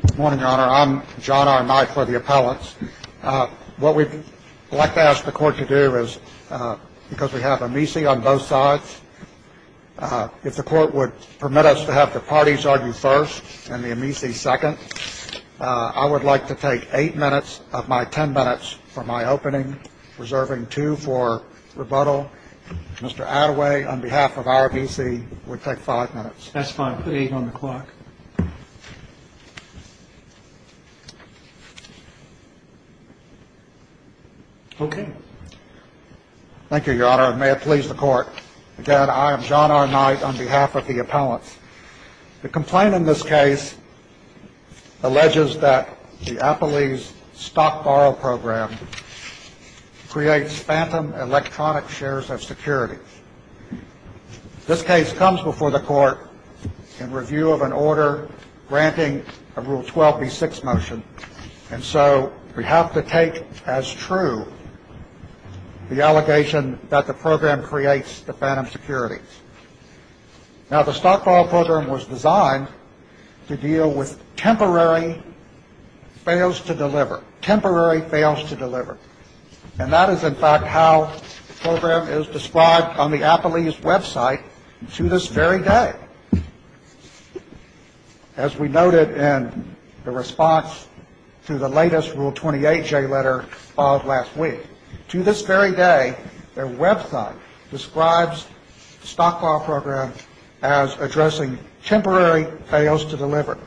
Good morning, Your Honor. I'm John R. Knight for the appellants. What we'd like to ask the Court to do is, because we have Amici on both sides, if the Court would permit us to have the parties argue first and the Amici second, I would like to take eight minutes of my ten minutes for my opening, reserving two for rebuttal. Mr. Attaway, on behalf of our Amici, would take five minutes. That's fine. Put eight on the clock. Okay. Thank you, Your Honor. And may it please the Court, again, I am John R. Knight on behalf of the appellants. The complaint in this case alleges that the Appellee's Stock Borrow Program creates phantom electronic shares of security. This case comes before the Court in review of an order granting a Rule 12b-6 motion, and so we have to take as true the allegation that the program creates the phantom security. Now, the Stock Borrow Program was designed to deal with temporary fails to deliver. Temporary fails to deliver. And that is, in fact, how the program is described on the Appellee's website to this very day, as we noted in the response to the latest Rule 28J letter filed last week. To this very day, their website describes the Stock Borrow Program as addressing temporary fails to deliver.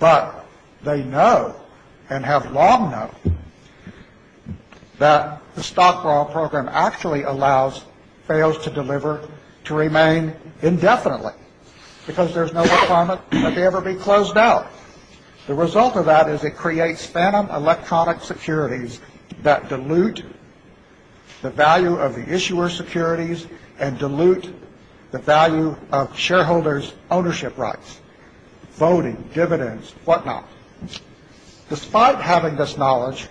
But they know and have long known that the Stock Borrow Program actually allows fails to deliver to remain indefinitely because there's no requirement that they ever be closed out. The result of that is it creates phantom electronic securities that dilute the value of the issuer's securities and dilute the value of shareholders' ownership rights, voting, dividends, whatnot. Despite having this knowledge,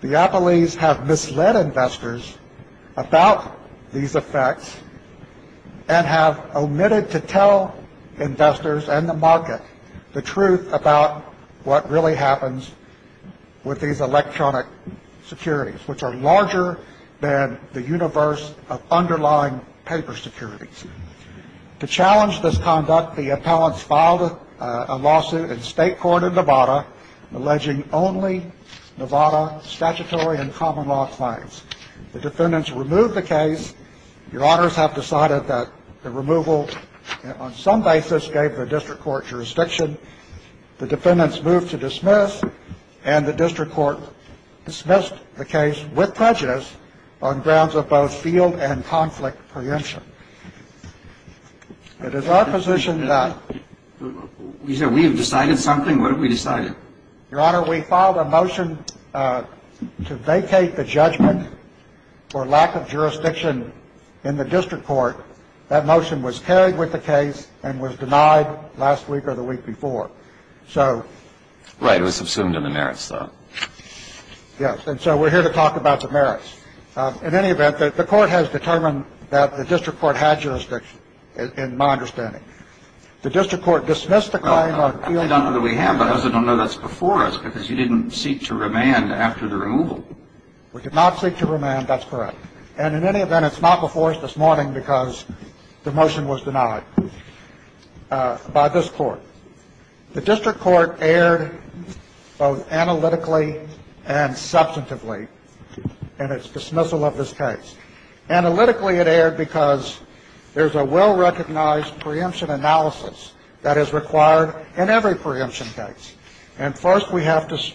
the Appellees have misled investors about these effects and have omitted to tell investors and the market the truth about what really happens with these electronic securities, which are larger than the universe of underlying paper securities. To challenge this conduct, the Appellants filed a lawsuit in state court in Nevada alleging only Nevada statutory and common law claims. The defendants removed the case. Your Honors have decided that the removal on some basis gave the district court jurisdiction. The defendants moved to dismiss, and the district court dismissed the case with prejudice on grounds of both field and conflict preemption. It is our position that... You said we have decided something? What have we decided? Your Honor, we filed a motion to vacate the judgment for lack of jurisdiction in the district court. That motion was carried with the case and was denied last week or the week before. So... Right. It was subsumed in the merits, though. Yes. And so we're here to talk about the merits. In any event, the court has determined that the district court had jurisdiction, in my understanding. The district court dismissed the claim on field... I don't know that we have, but I also don't know that's before us, because you didn't seek to remand after the removal. We did not seek to remand. That's correct. And in any event, it's not before us this morning because the motion was denied by this court. The district court erred both analytically and substantively in its dismissal of this case. Analytically, it erred because there's a well-recognized preemption analysis that is required in every preemption case. And first we have to...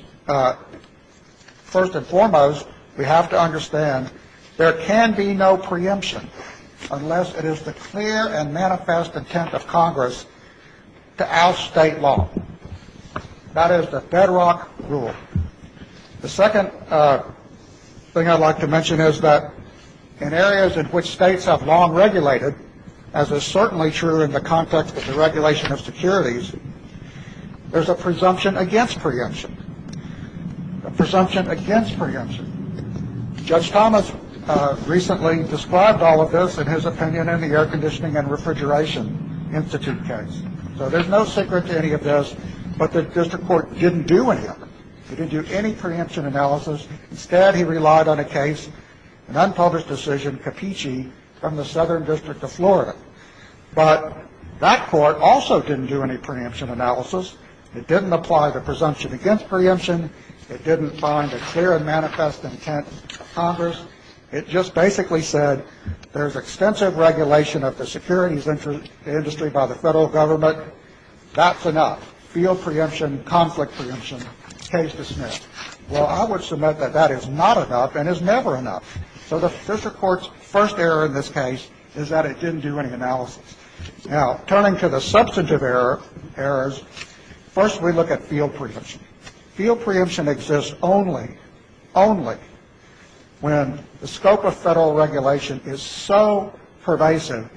First and foremost, we have to understand there can be no preemption unless it is the clear and manifest intent of Congress to oust state law. That is the bedrock rule. The second thing I'd like to mention is that in areas in which states have long regulated, as is certainly true in the context of the regulation of securities, there's a presumption against preemption. A presumption against preemption. Judge Thomas recently described all of this in his opinion in the Air Conditioning and Refrigeration Institute case. So there's no secret to any of this, but the district court didn't do any of it. It didn't do any preemption analysis. Instead, he relied on a case, an unpublished decision, Capici, from the Southern District of Florida. But that court also didn't do any preemption analysis. It didn't apply the presumption against preemption. Now, if you look at this case, it just basically said there's extensive regulation of the securities industry by the Federal Government. That's enough. Field preemption, conflict preemption, case dismissed. Well, I would submit that that is not enough and is never enough. So the district court's first error in this case is that it didn't do any analysis. Now, turning to the substantive errors, first we look at field preemption. Field preemption exists only, only when the scope of Federal regulation is so pervasive,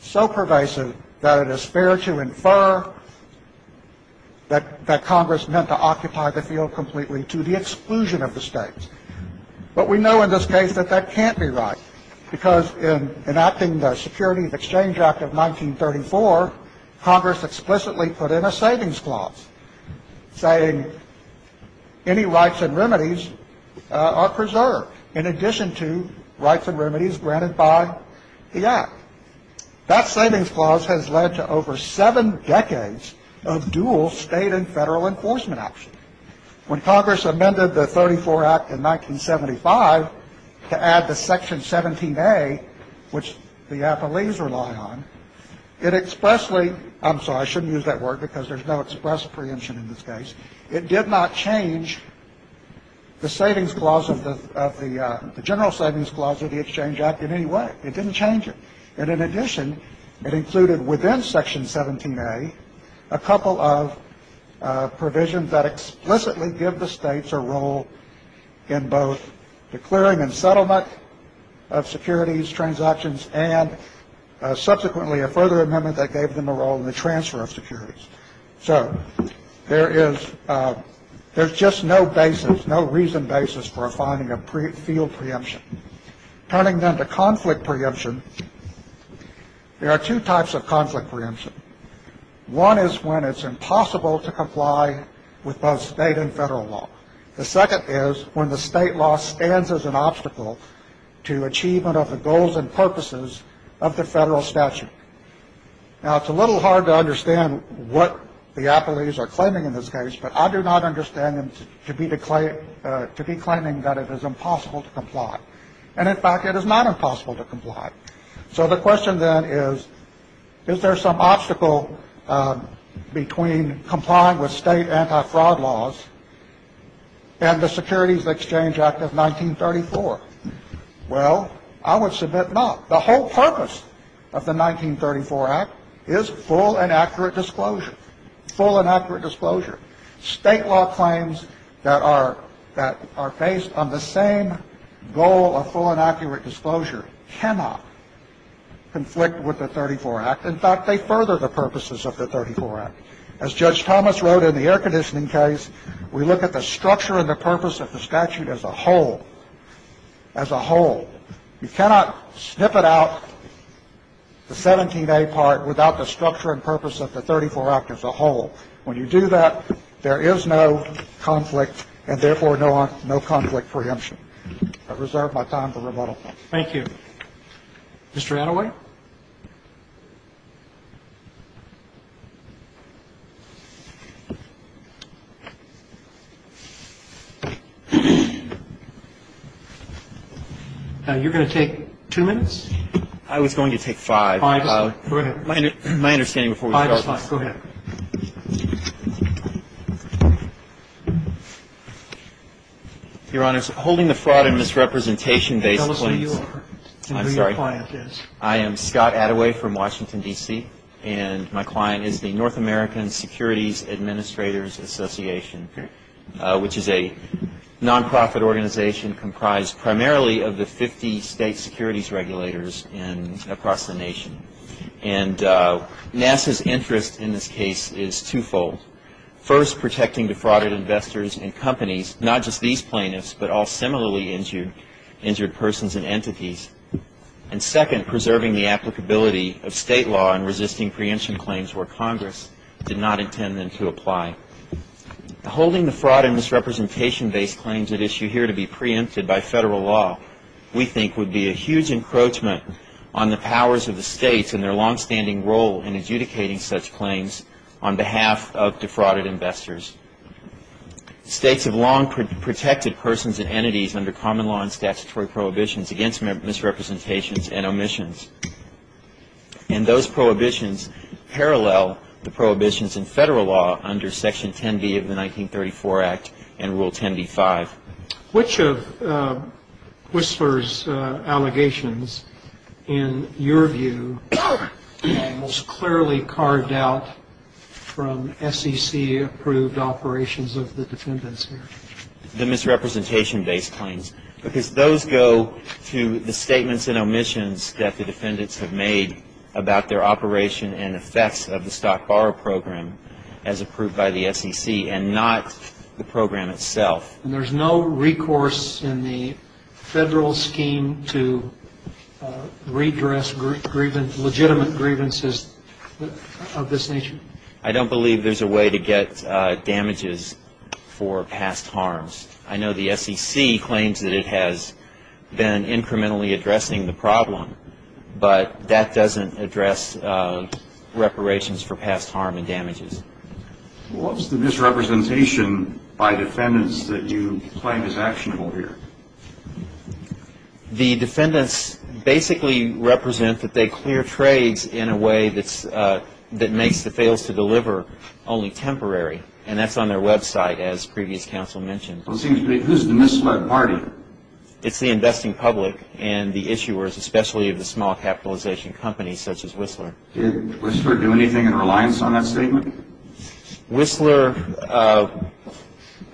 so pervasive that it is fair to infer that Congress meant to occupy the field completely to the exclusion of the States. But we know in this case that that can't be right, because in enacting the Security of Exchange Act of 1934, Congress explicitly put in a savings clause saying any rights and remedies are preserved, in addition to rights and remedies granted by the Act. That savings clause has led to over seven decades of dual State and Federal enforcement action. When Congress amended the 34 Act in 1975 to add the Section 17A, which the appellees rely on, it expressly ‑‑ I'm sorry, I shouldn't use that word, because there's no express preemption in this case. It did not change the savings clause of the ‑‑ the general savings clause of the Exchange Act in any way. It didn't change it. And in addition, it included within Section 17A a couple of provisions that explicitly give the States a role in both the clearing and settlement of securities transactions and subsequently a further amendment that gave them a role in the transfer of securities. So there is ‑‑ there's just no basis, no reason basis for finding a field preemption. Turning then to conflict preemption, there are two types of conflict preemption. One is when it's impossible to comply with both State and Federal law. The second is when the State law stands as an obstacle to achievement of the goals and purposes of the Federal statute. Now, it's a little hard to understand what the appellees are claiming in this case, but I do not understand them to be claiming that it is impossible to comply. And in fact, it is not impossible to comply. So the question then is, is there some obstacle between complying with State anti‑fraud laws and the Securities Exchange Act of 1934? Well, I would submit not. The whole purpose of the 1934 Act is full and accurate disclosure. Full and accurate disclosure. State law claims that are ‑‑ that are based on the same goal of full and accurate disclosure cannot conflict with the 1934 Act. In fact, they further the purposes of the 1934 Act. As Judge Thomas wrote in the air conditioning case, we look at the structure and the purpose of the statute as a whole. As a whole. You cannot snippet out the 17A part without the structure and purpose of the 1934 Act as a whole. When you do that, there is no conflict and, therefore, no conflict preemption. I reserve my time for rebuttal. Thank you. Mr. Attaway. You're going to take two minutes? I was going to take five. Five minutes. Go ahead. My understanding before we start. Five minutes. Go ahead. Your Honor, holding the fraud and misrepresentation based claims. Tell us who you are. I'm sorry. And who your client is. I am Scott Attaway from Washington, D.C., and my client is the North American Securities Administrators Association, which is a nonprofit organization comprised primarily of the 50 state securities regulators across the nation. And NASA's interest in this case is twofold. First, protecting defrauded investors and companies, not just these plaintiffs, but all similarly injured persons and entities. And second, preserving the applicability of state law and resisting preemption claims where Congress did not intend them to apply. Holding the fraud and misrepresentation based claims at issue here to be preempted by federal law, we think would be a huge encroachment on the powers of the states and their longstanding role in adjudicating such claims on behalf of defrauded investors. States have long protected persons and entities under common law and statutory prohibitions against misrepresentations and omissions. And those prohibitions parallel the prohibitions in federal law under Section 10b of the 1934 Act and Rule 10b-5. Which of Whistler's allegations, in your view, most clearly carved out from SEC-approved operations of the defendants here? The misrepresentation based claims, because those go to the statements and omissions that the defendants have made about their operation and effects of the stock borrow program as approved by the SEC and not the program itself. And there's no recourse in the federal scheme to redress legitimate grievances of this nature? I don't believe there's a way to get damages for past harms. I know the SEC claims that it has been incrementally addressing the problem, but that doesn't address reparations for past harm and damages. What's the misrepresentation by defendants that you claim is actionable here? The defendants basically represent that they clear trades in a way that makes the fails-to-deliver only temporary. And that's on their website, as previous counsel mentioned. Well, it seems to me, who's the misled party? It's the investing public and the issuers, especially of the small capitalization companies such as Whistler. Did Whistler do anything in reliance on that statement? Whistler, I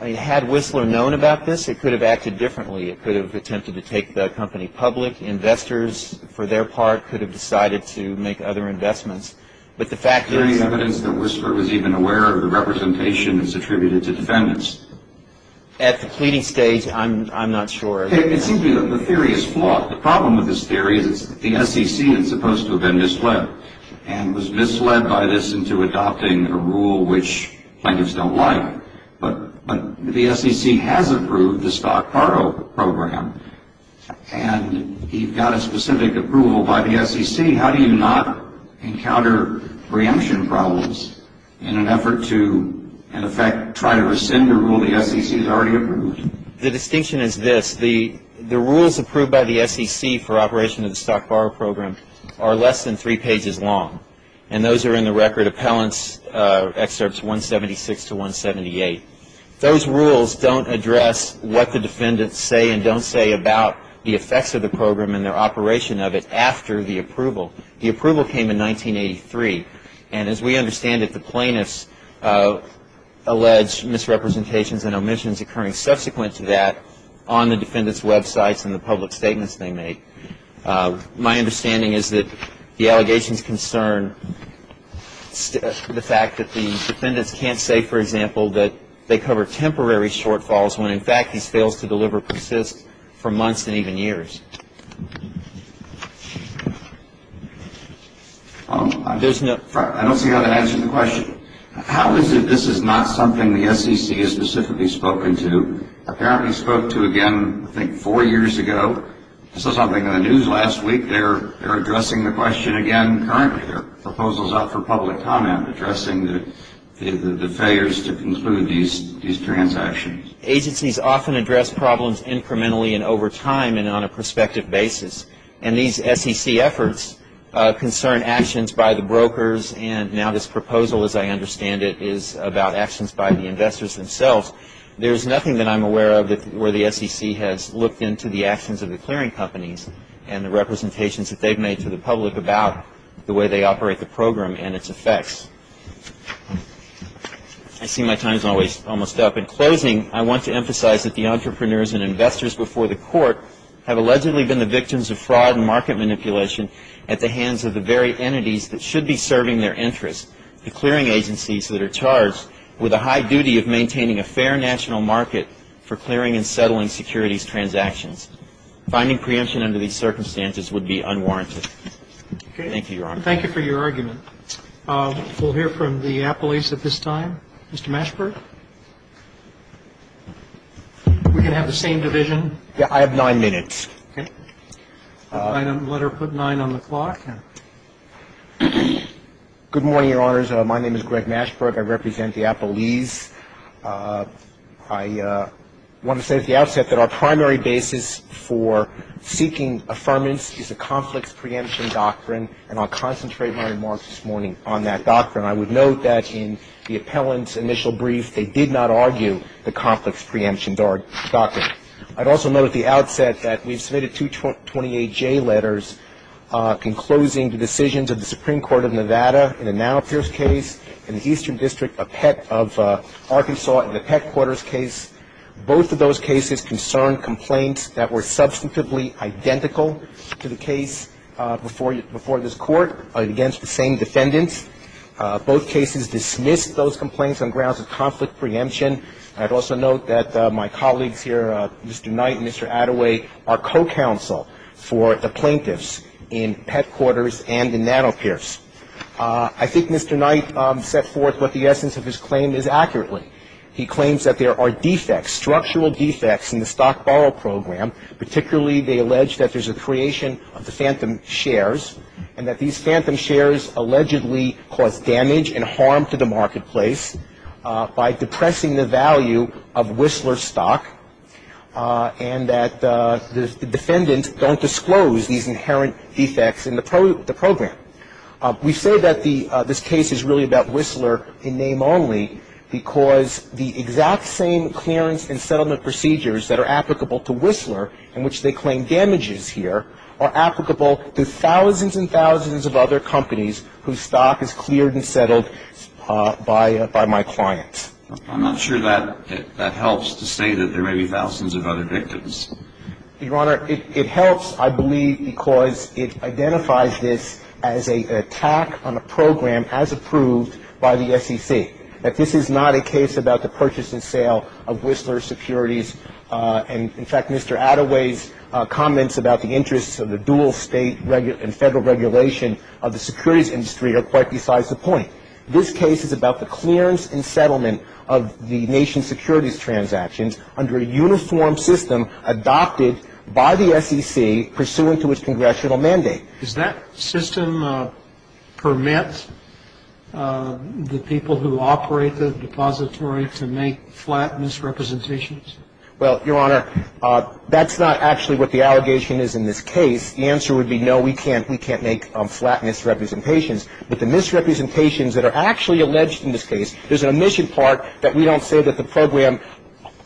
mean, had Whistler known about this, it could have acted differently. It could have attempted to take the company public. Investors, for their part, could have decided to make other investments. But the fact is that Whistler was even aware of the representation that's attributed to defendants. At the pleading stage, I'm not sure. It seems to me that the theory is flawed. Well, the problem with this theory is it's the SEC that's supposed to have been misled and was misled by this into adopting a rule which plaintiffs don't like. But the SEC has approved the stockpile program, and you've got a specific approval by the SEC. How do you not encounter preemption problems in an effort to, in effect, try to rescind a rule the SEC has already approved? The distinction is this. The rules approved by the SEC for operation of the stockborrow program are less than three pages long, and those are in the record appellant's excerpts 176 to 178. Those rules don't address what the defendants say and don't say about the effects of the program and their operation of it after the approval. The approval came in 1983, and as we understand it, the plaintiffs allege misrepresentations and omissions occurring subsequent to that on the defendants' Web sites and the public statements they make. My understanding is that the allegations concern the fact that the defendants can't say, for example, that they cover temporary shortfalls when, in fact, these fails to deliver persist for months and even years. I don't see how that answers the question. How is it this is not something the SEC has specifically spoken to? Apparently spoke to again, I think, four years ago. This was on the news last week. They're addressing the question again currently. Their proposal is up for public comment, addressing the failures to conclude these transactions. Agencies often address problems incrementally and over time, and on a prospective basis. And these SEC efforts concern actions by the brokers, and now this proposal, as I understand it, is about actions by the investors themselves. There's nothing that I'm aware of where the SEC has looked into the actions of the clearing companies and the representations that they've made to the public about the way they operate the program and its effects. I see my time is almost up. In closing, I want to emphasize that the entrepreneurs and investors before the court have allegedly been the victims of fraud and market manipulation at the hands of the very entities that should be serving their interests, the clearing agencies that are charged with a high duty of maintaining a fair national market for clearing and settling securities transactions. Finding preemption under these circumstances would be unwarranted. Thank you for your argument. We'll hear from the appellees at this time. Mr. Mashberg. We can have the same division. Yeah, I have nine minutes. Okay. Let her put nine on the clock. Good morning, Your Honors. My name is Greg Mashberg. I represent the appellees. I want to say at the outset that our primary basis for seeking affirmance is a conflicts preemption doctrine, and I'll concentrate my remarks this morning on that doctrine. I would note that in the appellant's initial brief, they did not argue the conflicts preemption doctrine. I'd also note at the outset that we've submitted two 28-J letters conclusing the decisions of the Supreme Court of Nevada in the now Pierce case and the Eastern District of Arkansas in the Peck quarters case. Both of those cases concerned complaints that were substantively identical to the case before this Court against the same defendants. Both cases dismissed those complaints on grounds of conflict preemption. I'd also note that my colleagues here, Mr. Knight and Mr. Attaway, are co-counsel for the plaintiffs in Peck quarters and in Nano Pierce. I think Mr. Knight set forth what the essence of his claim is accurately. He claims that there are defects, structural defects in the stock borrow program, particularly they allege that there's a creation of the phantom shares, and that these phantom shares allegedly cause damage and harm to the marketplace by depressing the value of Whistler stock, and that the defendants don't disclose these inherent defects in the program. We say that this case is really about Whistler in name only because the exact same clearance and settlement procedures that are applicable to Whistler in which they claim damages here are applicable to thousands and thousands of other companies whose stock is cleared and settled by my clients. I'm not sure that helps to say that there may be thousands of other victims. Your Honor, it helps, I believe, because it identifies this as an attack on a program as approved by the SEC, that this is not a case about the purchase and sale of Whistler securities. And, in fact, Mr. Attaway's comments about the interests of the dual State and Federal regulation of the securities industry are quite besides the point. This case is about the clearance and settlement of the nation's securities transactions under a uniform system adopted by the SEC pursuant to its congressional mandate. Does that system permit the people who operate the depository to make flat misrepresentations? Well, Your Honor, that's not actually what the allegation is in this case. The answer would be no, we can't make flat misrepresentations. But the misrepresentations that are actually alleged in this case, there's an omission part that we don't say that the program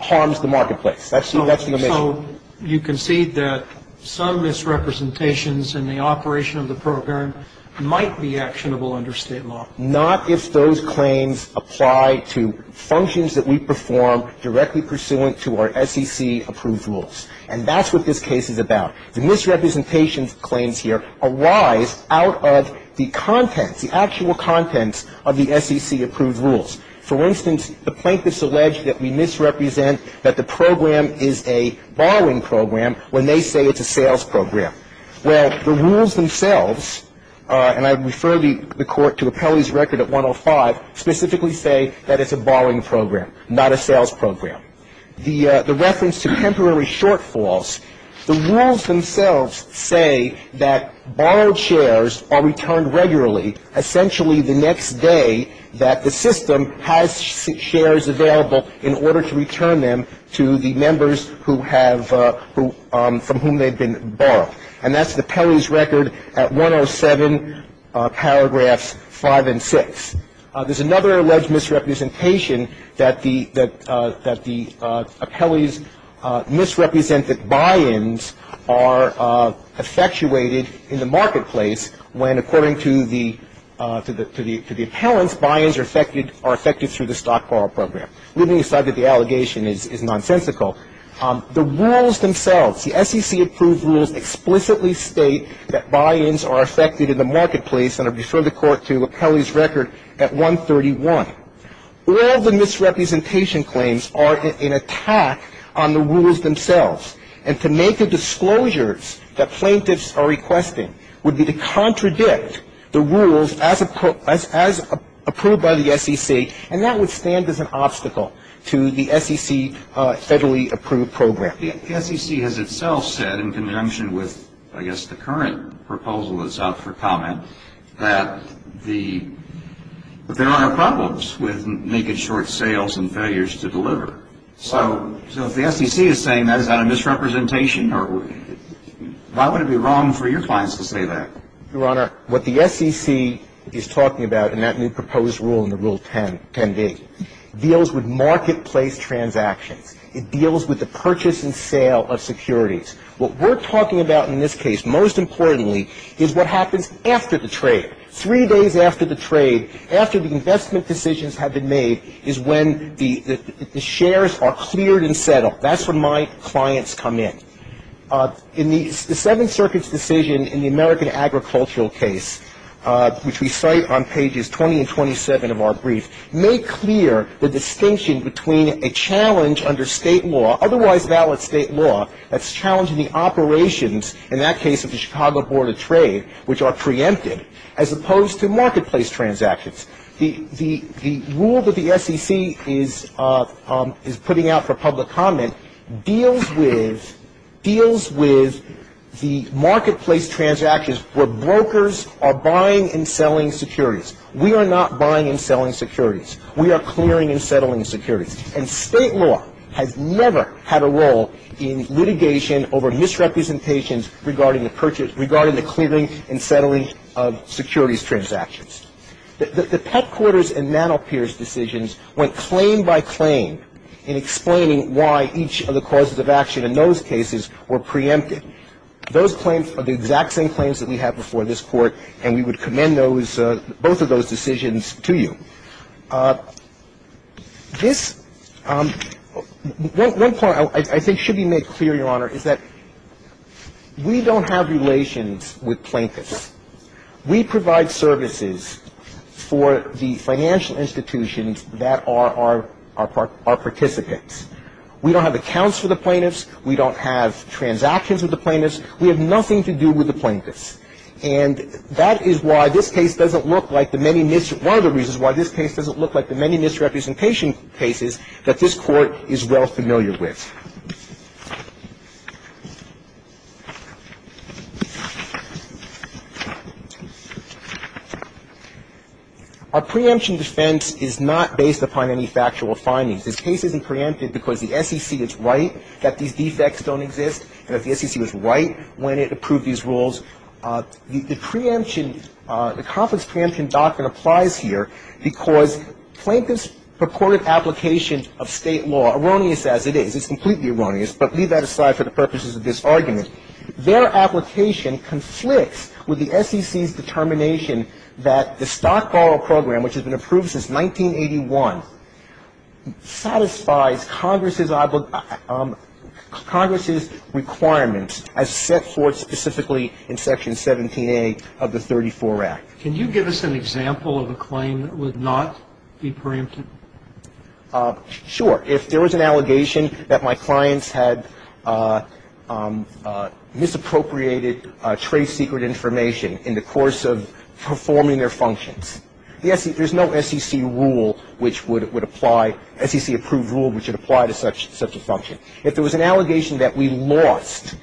harms the marketplace. That's the omission. So you concede that some misrepresentations in the operation of the program might be actionable under State law? Not if those claims apply to functions that we perform directly pursuant to our SEC-approved rules. And that's what this case is about. The misrepresentations claims here arise out of the contents, the actual contents of the SEC-approved rules. For instance, the plaintiffs allege that we misrepresent that the program is a borrowing program when they say it's a sales program. Well, the rules themselves, and I refer the Court to Appellee's Record at 105, specifically say that it's a borrowing program, not a sales program. The reference to temporary shortfalls, the rules themselves say that borrowed shares are returned regularly, essentially the next day that the system has shares available in order to return them to the members who have, from whom they've been borrowed. And that's the Appellee's Record at 107, paragraphs 5 and 6. There's another alleged misrepresentation that the Appellee's misrepresented buy-ins are effectuated in the marketplace when, according to the appellants, buy-ins are affected through the stock borrow program. Leaving aside that the allegation is nonsensical, the rules themselves, the SEC-approved rules explicitly state that buy-ins are affected in the marketplace, and I refer the Court to Appellee's Record at 131. All the misrepresentation claims are an attack on the rules themselves, and to make the disclosures that plaintiffs are requesting would be to contradict the rules as approved by the SEC, and that would stand as an obstacle to the SEC federally approved program. The SEC has itself said, in conjunction with, I guess, the current proposal that's out for comment, that there are problems with making short sales and failures to deliver. So if the SEC is saying that is not a misrepresentation, why would it be wrong for your clients to say that? Your Honor, what the SEC is talking about in that new proposed rule in the Rule 10b deals with marketplace transactions. It deals with the purchase and sale of securities. What we're talking about in this case, most importantly, is what happens after the trade. Three days after the trade, after the investment decisions have been made, is when the shares are cleared and settled. That's when my clients come in. In the Seventh Circuit's decision in the American agricultural case, which we cite on pages 20 and 27 of our brief, made clear the distinction between a challenge under state law, otherwise valid state law, that's challenging the operations, in that case of the Chicago Board of Trade, which are preempted, as opposed to marketplace transactions. The rule that the SEC is putting out for public comment deals with the marketplace transactions where brokers are buying and selling securities. We are not buying and selling securities. We are clearing and settling securities. And state law has never had a role in litigation over misrepresentations regarding the purchase regarding the clearing and settling of securities transactions. The Petcourter's and Manopier's decisions went claim by claim in explaining why each of the causes of action in those cases were preempted. Those claims are the exact same claims that we have before this Court, and we would commend those both of those decisions to you. This one point I think should be made clear, Your Honor, is that we don't have relations with plaintiffs. We provide services for the financial institutions that are our participants. We don't have accounts for the plaintiffs. We don't have transactions with the plaintiffs. We have nothing to do with the plaintiffs. And that is why this case doesn't look like the many misrepresentation cases that this Court is well familiar with. Our preemption defense is not based upon any factual findings. This case isn't preempted because the SEC is right that these defects don't exist, and that the SEC was right when it approved these rules. The preemption, the complex preemption doctrine applies here because plaintiffs' purported application of State law, erroneous as it is, it's completely erroneous, but leave that aside for the purposes of this argument. Their application conflicts with the SEC's determination that the stock borrow program, which has been approved since 1981, satisfies Congress's requirements as set forth specifically in Section 17A of the 34 Act. Can you give us an example of a claim that would not be preempted? Sure. If there was an allegation that my clients had misappropriated trade secret information in the course of performing their functions, there's no SEC rule which would apply – SEC-approved rule which would apply to such a function. If there was an allegation that we lost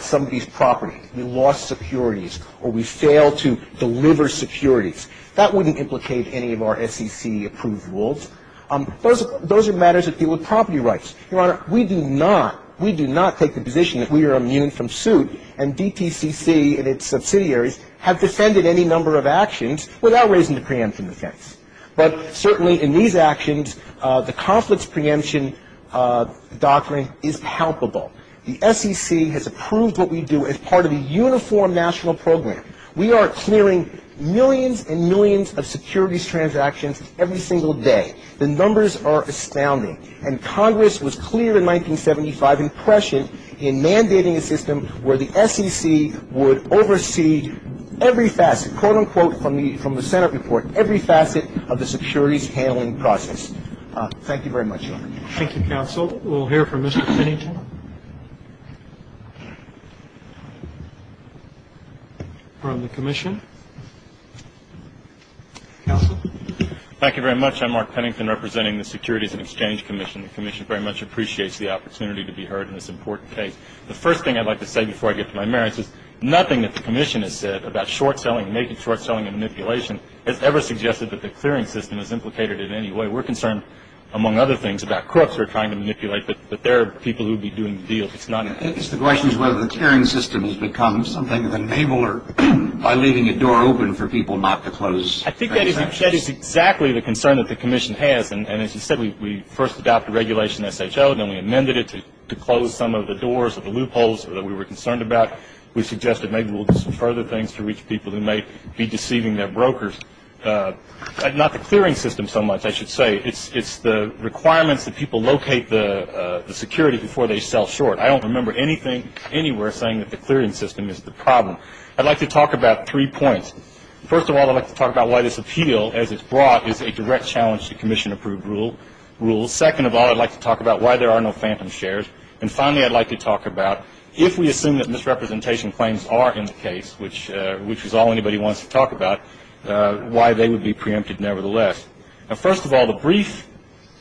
somebody's property, we lost securities, or we failed to deliver securities, that wouldn't implicate any of our SEC-approved rules. Those are matters that deal with property rights. Your Honor, we do not – we do not take the position that we are immune from suit and DTCC and its subsidiaries have defended any number of actions without raising the preemption defense. But certainly in these actions, the conflicts preemption doctrine is palpable. The SEC has approved what we do as part of a uniform national program. We are clearing millions and millions of securities transactions every single day. The numbers are astounding. And Congress was clear in 1975 in Prussian in mandating a system where the SEC would oversee every facet, quote, unquote, from the Senate report, every facet of the securities handling process. Thank you very much, Your Honor. Thank you, counsel. We'll hear from Mr. Pennington. From the commission. Counsel. Thank you very much. I'm Mark Pennington, representing the Securities and Exchange Commission. The commission very much appreciates the opportunity to be heard in this important case. The first thing I'd like to say before I get to my merits is nothing that the commission has said about short-selling, making short-selling a manipulation, has ever suggested that the clearing system is implicated in any way. We're concerned, among other things, about crooks who are trying to manipulate, but there are people who would be doing the deal if it's not – I guess the question is whether the clearing system has become something of an enabler by leaving a door open for people not to close transactions. I think that is exactly the concern that the commission has. And as you said, we first adopted Regulation SHO, then we amended it to close some of the doors or the loopholes that we were concerned about. We suggested maybe we'll do some further things to reach people who may be deceiving their brokers. Not the clearing system so much, I should say. It's the requirements that people locate the security before they sell short. I don't remember anything anywhere saying that the clearing system is the problem. I'd like to talk about three points. First of all, I'd like to talk about why this appeal, as it's brought, is a direct challenge to commission-approved rules. Second of all, I'd like to talk about why there are no phantom shares. And finally, I'd like to talk about if we assume that misrepresentation claims are in the case, which is all anybody wants to talk about, why they would be preempted nevertheless. Now, first of all, the brief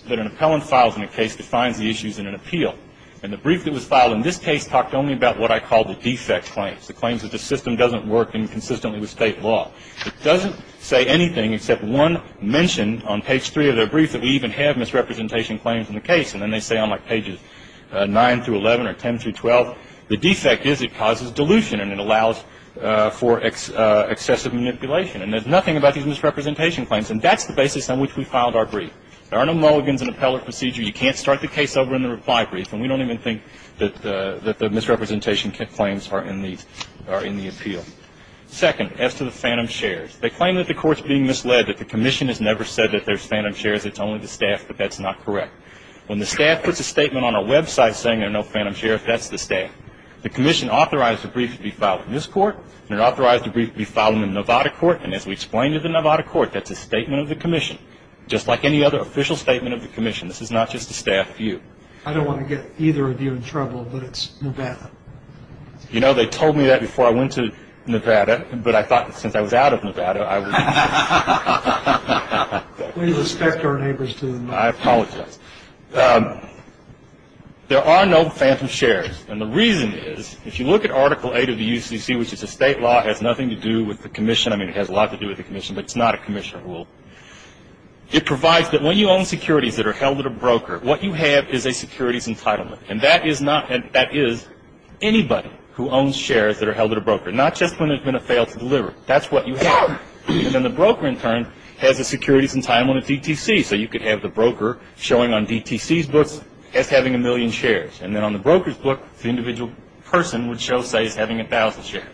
that an appellant files in a case defines the issues in an appeal. And the brief that was filed in this case talked only about what I call the defect claims, the claims that the system doesn't work inconsistently with state law. It doesn't say anything except one mention on page three of the brief that we even have misrepresentation claims in the case. And then they say on, like, pages 9 through 11 or 10 through 12, the defect is it causes dilution and it allows for excessive manipulation. And there's nothing about these misrepresentation claims. And that's the basis on which we filed our brief. There are no Mulligans in appellate procedure. You can't start the case over in the reply brief. And we don't even think that the misrepresentation claims are in the appeal. Second, as to the phantom shares, they claim that the court's being misled, that the commission has never said that there's phantom shares. It's only the staff, but that's not correct. When the staff puts a statement on our website saying there are no phantom shares, that's the staff. The commission authorized the brief to be filed in this court and it authorized the brief to be filed in the Nevada court. And as we explained to the Nevada court, that's a statement of the commission, just like any other official statement of the commission. This is not just a staff view. I don't want to get either of you in trouble, but it's Nevada. You know, they told me that before I went to Nevada. But I thought since I was out of Nevada, I would... We respect our neighbors to the... I apologize. There are no phantom shares. And the reason is, if you look at Article 8 of the UCC, which is a state law, it has nothing to do with the commission. I mean, it has a lot to do with the commission, but it's not a commission rule. It provides that when you own securities that are held at a broker, what you have is a securities entitlement. And that is not... That is anybody who owns shares that are held at a broker, not just when it's been a fail to deliver. That's what you have. And then the broker, in turn, has a securities entitlement on a DTC. So you could have the broker showing on DTC's books as having a million shares. And then on the broker's book, the individual person would show, say, as having a thousand shares.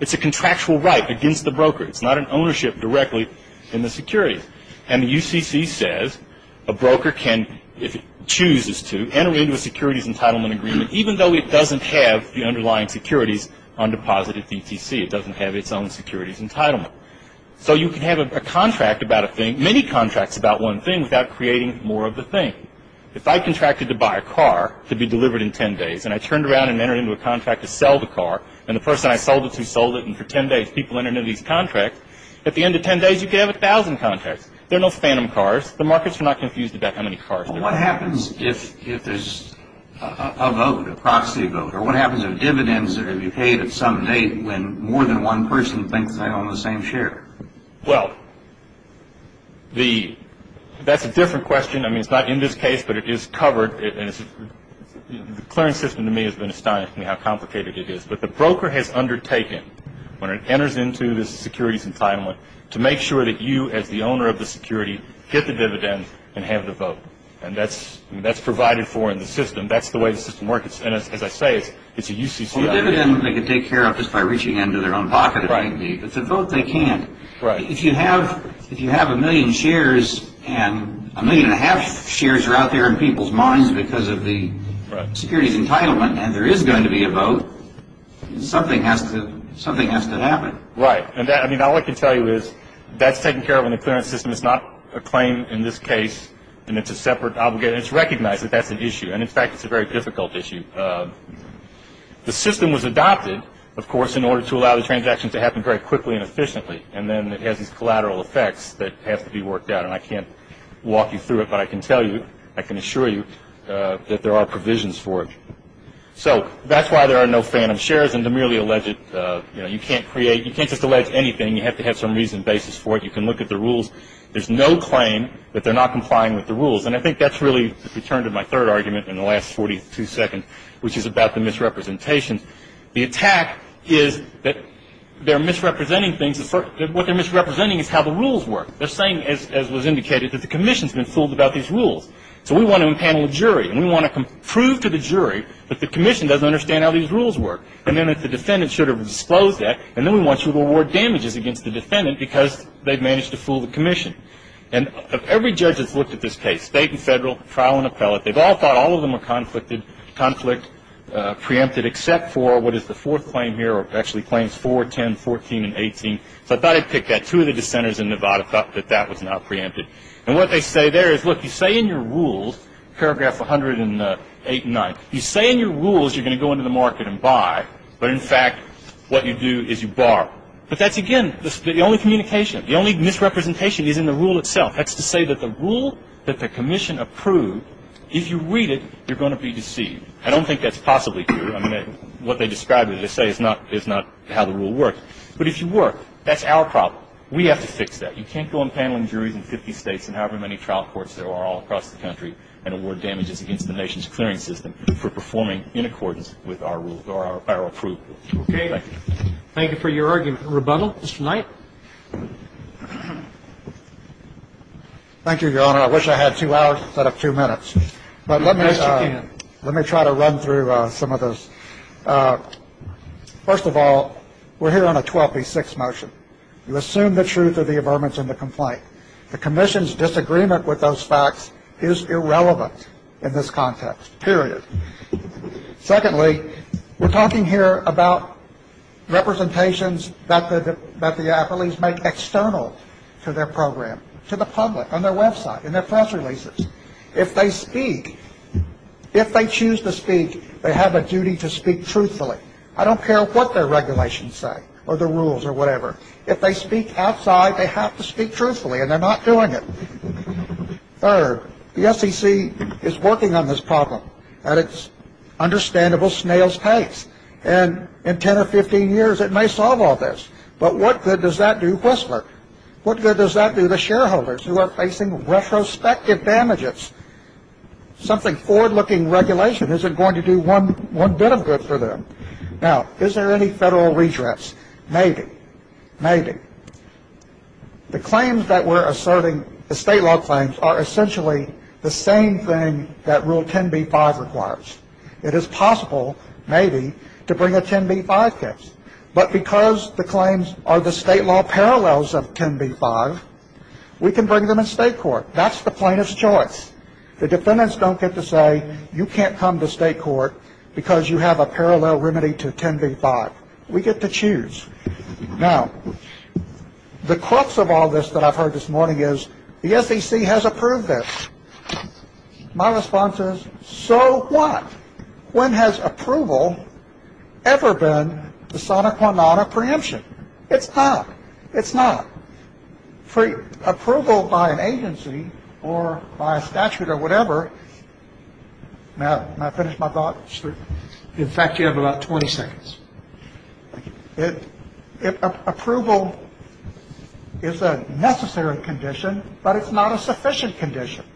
It's a contractual right against the broker. It's not an ownership directly in the securities. And the UCC says a broker can, if it chooses to, enter into a securities entitlement agreement, even though it doesn't have the underlying securities on deposit at DTC. It doesn't have its own securities entitlement. So you can have a contract about a thing, many contracts about one thing, without creating more of the thing. If I contracted to buy a car to be delivered in 10 days, and I turned around and entered into a contract to sell the car, and the person I sold it to sold it, and for 10 days people entered into these contracts, at the end of 10 days you could have a thousand contracts. They're not phantom cars. The markets are not confused about how many cars there are. What happens if there's a vote, a proxy vote? Or what happens if dividends are to be paid at some date when more than one person thinks they own the same share? Well, that's a different question. I mean, it's not in this case, but it is covered. The clearance system, to me, has been astonishing how complicated it is. But the broker has undertaken, when it enters into the securities entitlement, to make sure that you, as the owner of the security, get the dividend and have the vote. And that's provided for in the system. That's the way the system works. And as I say, it's a UCC idea. Well, the dividend they can take care of just by reaching into their own pocket, but the vote they can't. If you have a million shares, and a million and a half shares are out there in people's minds because of the securities entitlement and there is going to be a vote, something has to happen. Right. And all I can tell you is that's taken care of in the clearance system. It's not a claim in this case, and it's a separate obligation. It's recognized that that's an issue. And, in fact, it's a very difficult issue. The system was adopted, of course, in order to allow the transaction to happen very quickly and efficiently. And then it has these collateral effects that have to be worked out. And I can't walk you through it, but I can tell you, I can assure you, that there are provisions for it. So that's why there are no phantom shares, and they're merely alleged. You know, you can't create, you can't just allege anything. You have to have some reason and basis for it. You can look at the rules. There's no claim that they're not complying with the rules. And I think that's really returned to my third argument in the last 42 seconds, which is about the misrepresentations. The attack is that they're misrepresenting things. What they're misrepresenting is how the rules work. They're saying, as was indicated, that the commission's been fooled about these rules. So we want to impanel a jury, and we want to prove to the jury that the commission doesn't understand how these rules work. And then if the defendant should have disclosed that, and then we want you to award damages against the defendant because they've managed to fool the commission. And every judge that's looked at this case, state and federal, trial and appellate, they've all thought all of them were conflicted, conflict, preempted, except for what is the fourth claim here, or actually claims 4, 10, 14, and 18. So I thought I'd pick that. Two of the dissenters in Nevada thought that that was not preempted. And what they say there is, look, you say in your rules, paragraph 108 and 9, you say in your rules you're going to go into the market and buy. But in fact, what you do is you bar. But that's, again, the only communication. The only misrepresentation is in the rule itself. That's to say that the rule that the commission approved, if you read it, you're going to be deceived. I don't think that's possibly true. I mean, what they describe or they say is not how the rule works. But if you were, that's our problem. We have to fix that. You can't go on paneling juries in 50 states and however many trial courts there are all across the country and award damages against the nation's clearing system for performing in accordance with our rules or our approved rules. Thank you. Thank you for your argument. Rebundal. Mr. Knight. Thank you, Your Honor. I wish I had two hours instead of two minutes. But let me try to run through some of this. First of all, we're here on a 12B6 motion. You assume the truth of the averments in the complaint. The commission's disagreement with those facts is irrelevant in this context, period. Secondly, we're talking here about representations that the appellees make external to their program, to the public, on their website, in their press releases. If they speak, if they choose to speak, they have a duty to speak truthfully. I don't care what their regulations say or the rules or whatever. If they speak outside, they have to speak truthfully, and they're not doing it. Third, the SEC is working on this problem at its understandable snail's pace. And in 10 or 15 years, it may solve all this. But what good does that do Whistler? What good does that do the shareholders who are facing retrospective damages? Something forward-looking regulation isn't going to do one bit of good for them. Now, is there any federal redress? Maybe. Maybe. The claims that we're asserting, the state law claims, are essentially the same thing that Rule 10b-5 requires. It is possible, maybe, to bring a 10b-5 case. But because the claims are the state law parallels of 10b-5, we can bring them in state court. That's the plaintiff's choice. The defendants don't get to say, you can't come to state court because you have a parallel remedy to 10b-5. We get to choose. Now, the crux of all this that I've heard this morning is, the SEC has approved this. My response is, so what? When has approval ever been the sona qua non of preemption? It's not. It's not. Approval by an agency or by a statute or whatever ‑‑ may I finish my thoughts? In fact, you have about 20 seconds. Approval is a necessary condition, but it's not a sufficient condition.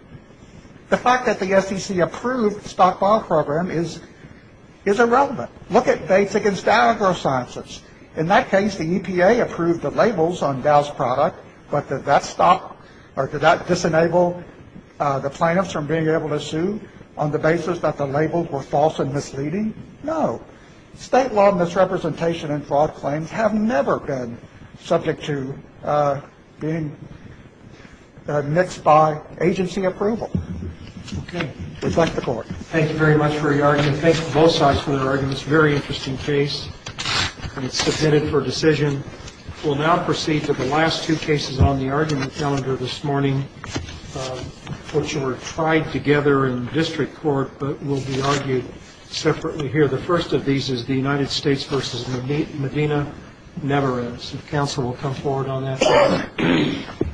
The fact that the SEC approved the stockpile program is irrelevant. Look at Bates v. Dow AgroSciences. In that case, the EPA approved the labels on Dow's product, but did that stop or did that disenable the plaintiffs from being able to sue on the basis that the labels were false and misleading? No. State law misrepresentation and fraud claims have never been subject to being mixed by agency approval. Okay. Reflect the Court. Thank you very much for your argument. Thank you to both sides for your arguments. This is a very interesting case, and it's submitted for decision. We'll now proceed to the last two cases on the argument calendar this morning, which were tried together in district court, but will be argued separately here. The first of these is the United States v. Medina never ends. Counsel will come forward on that.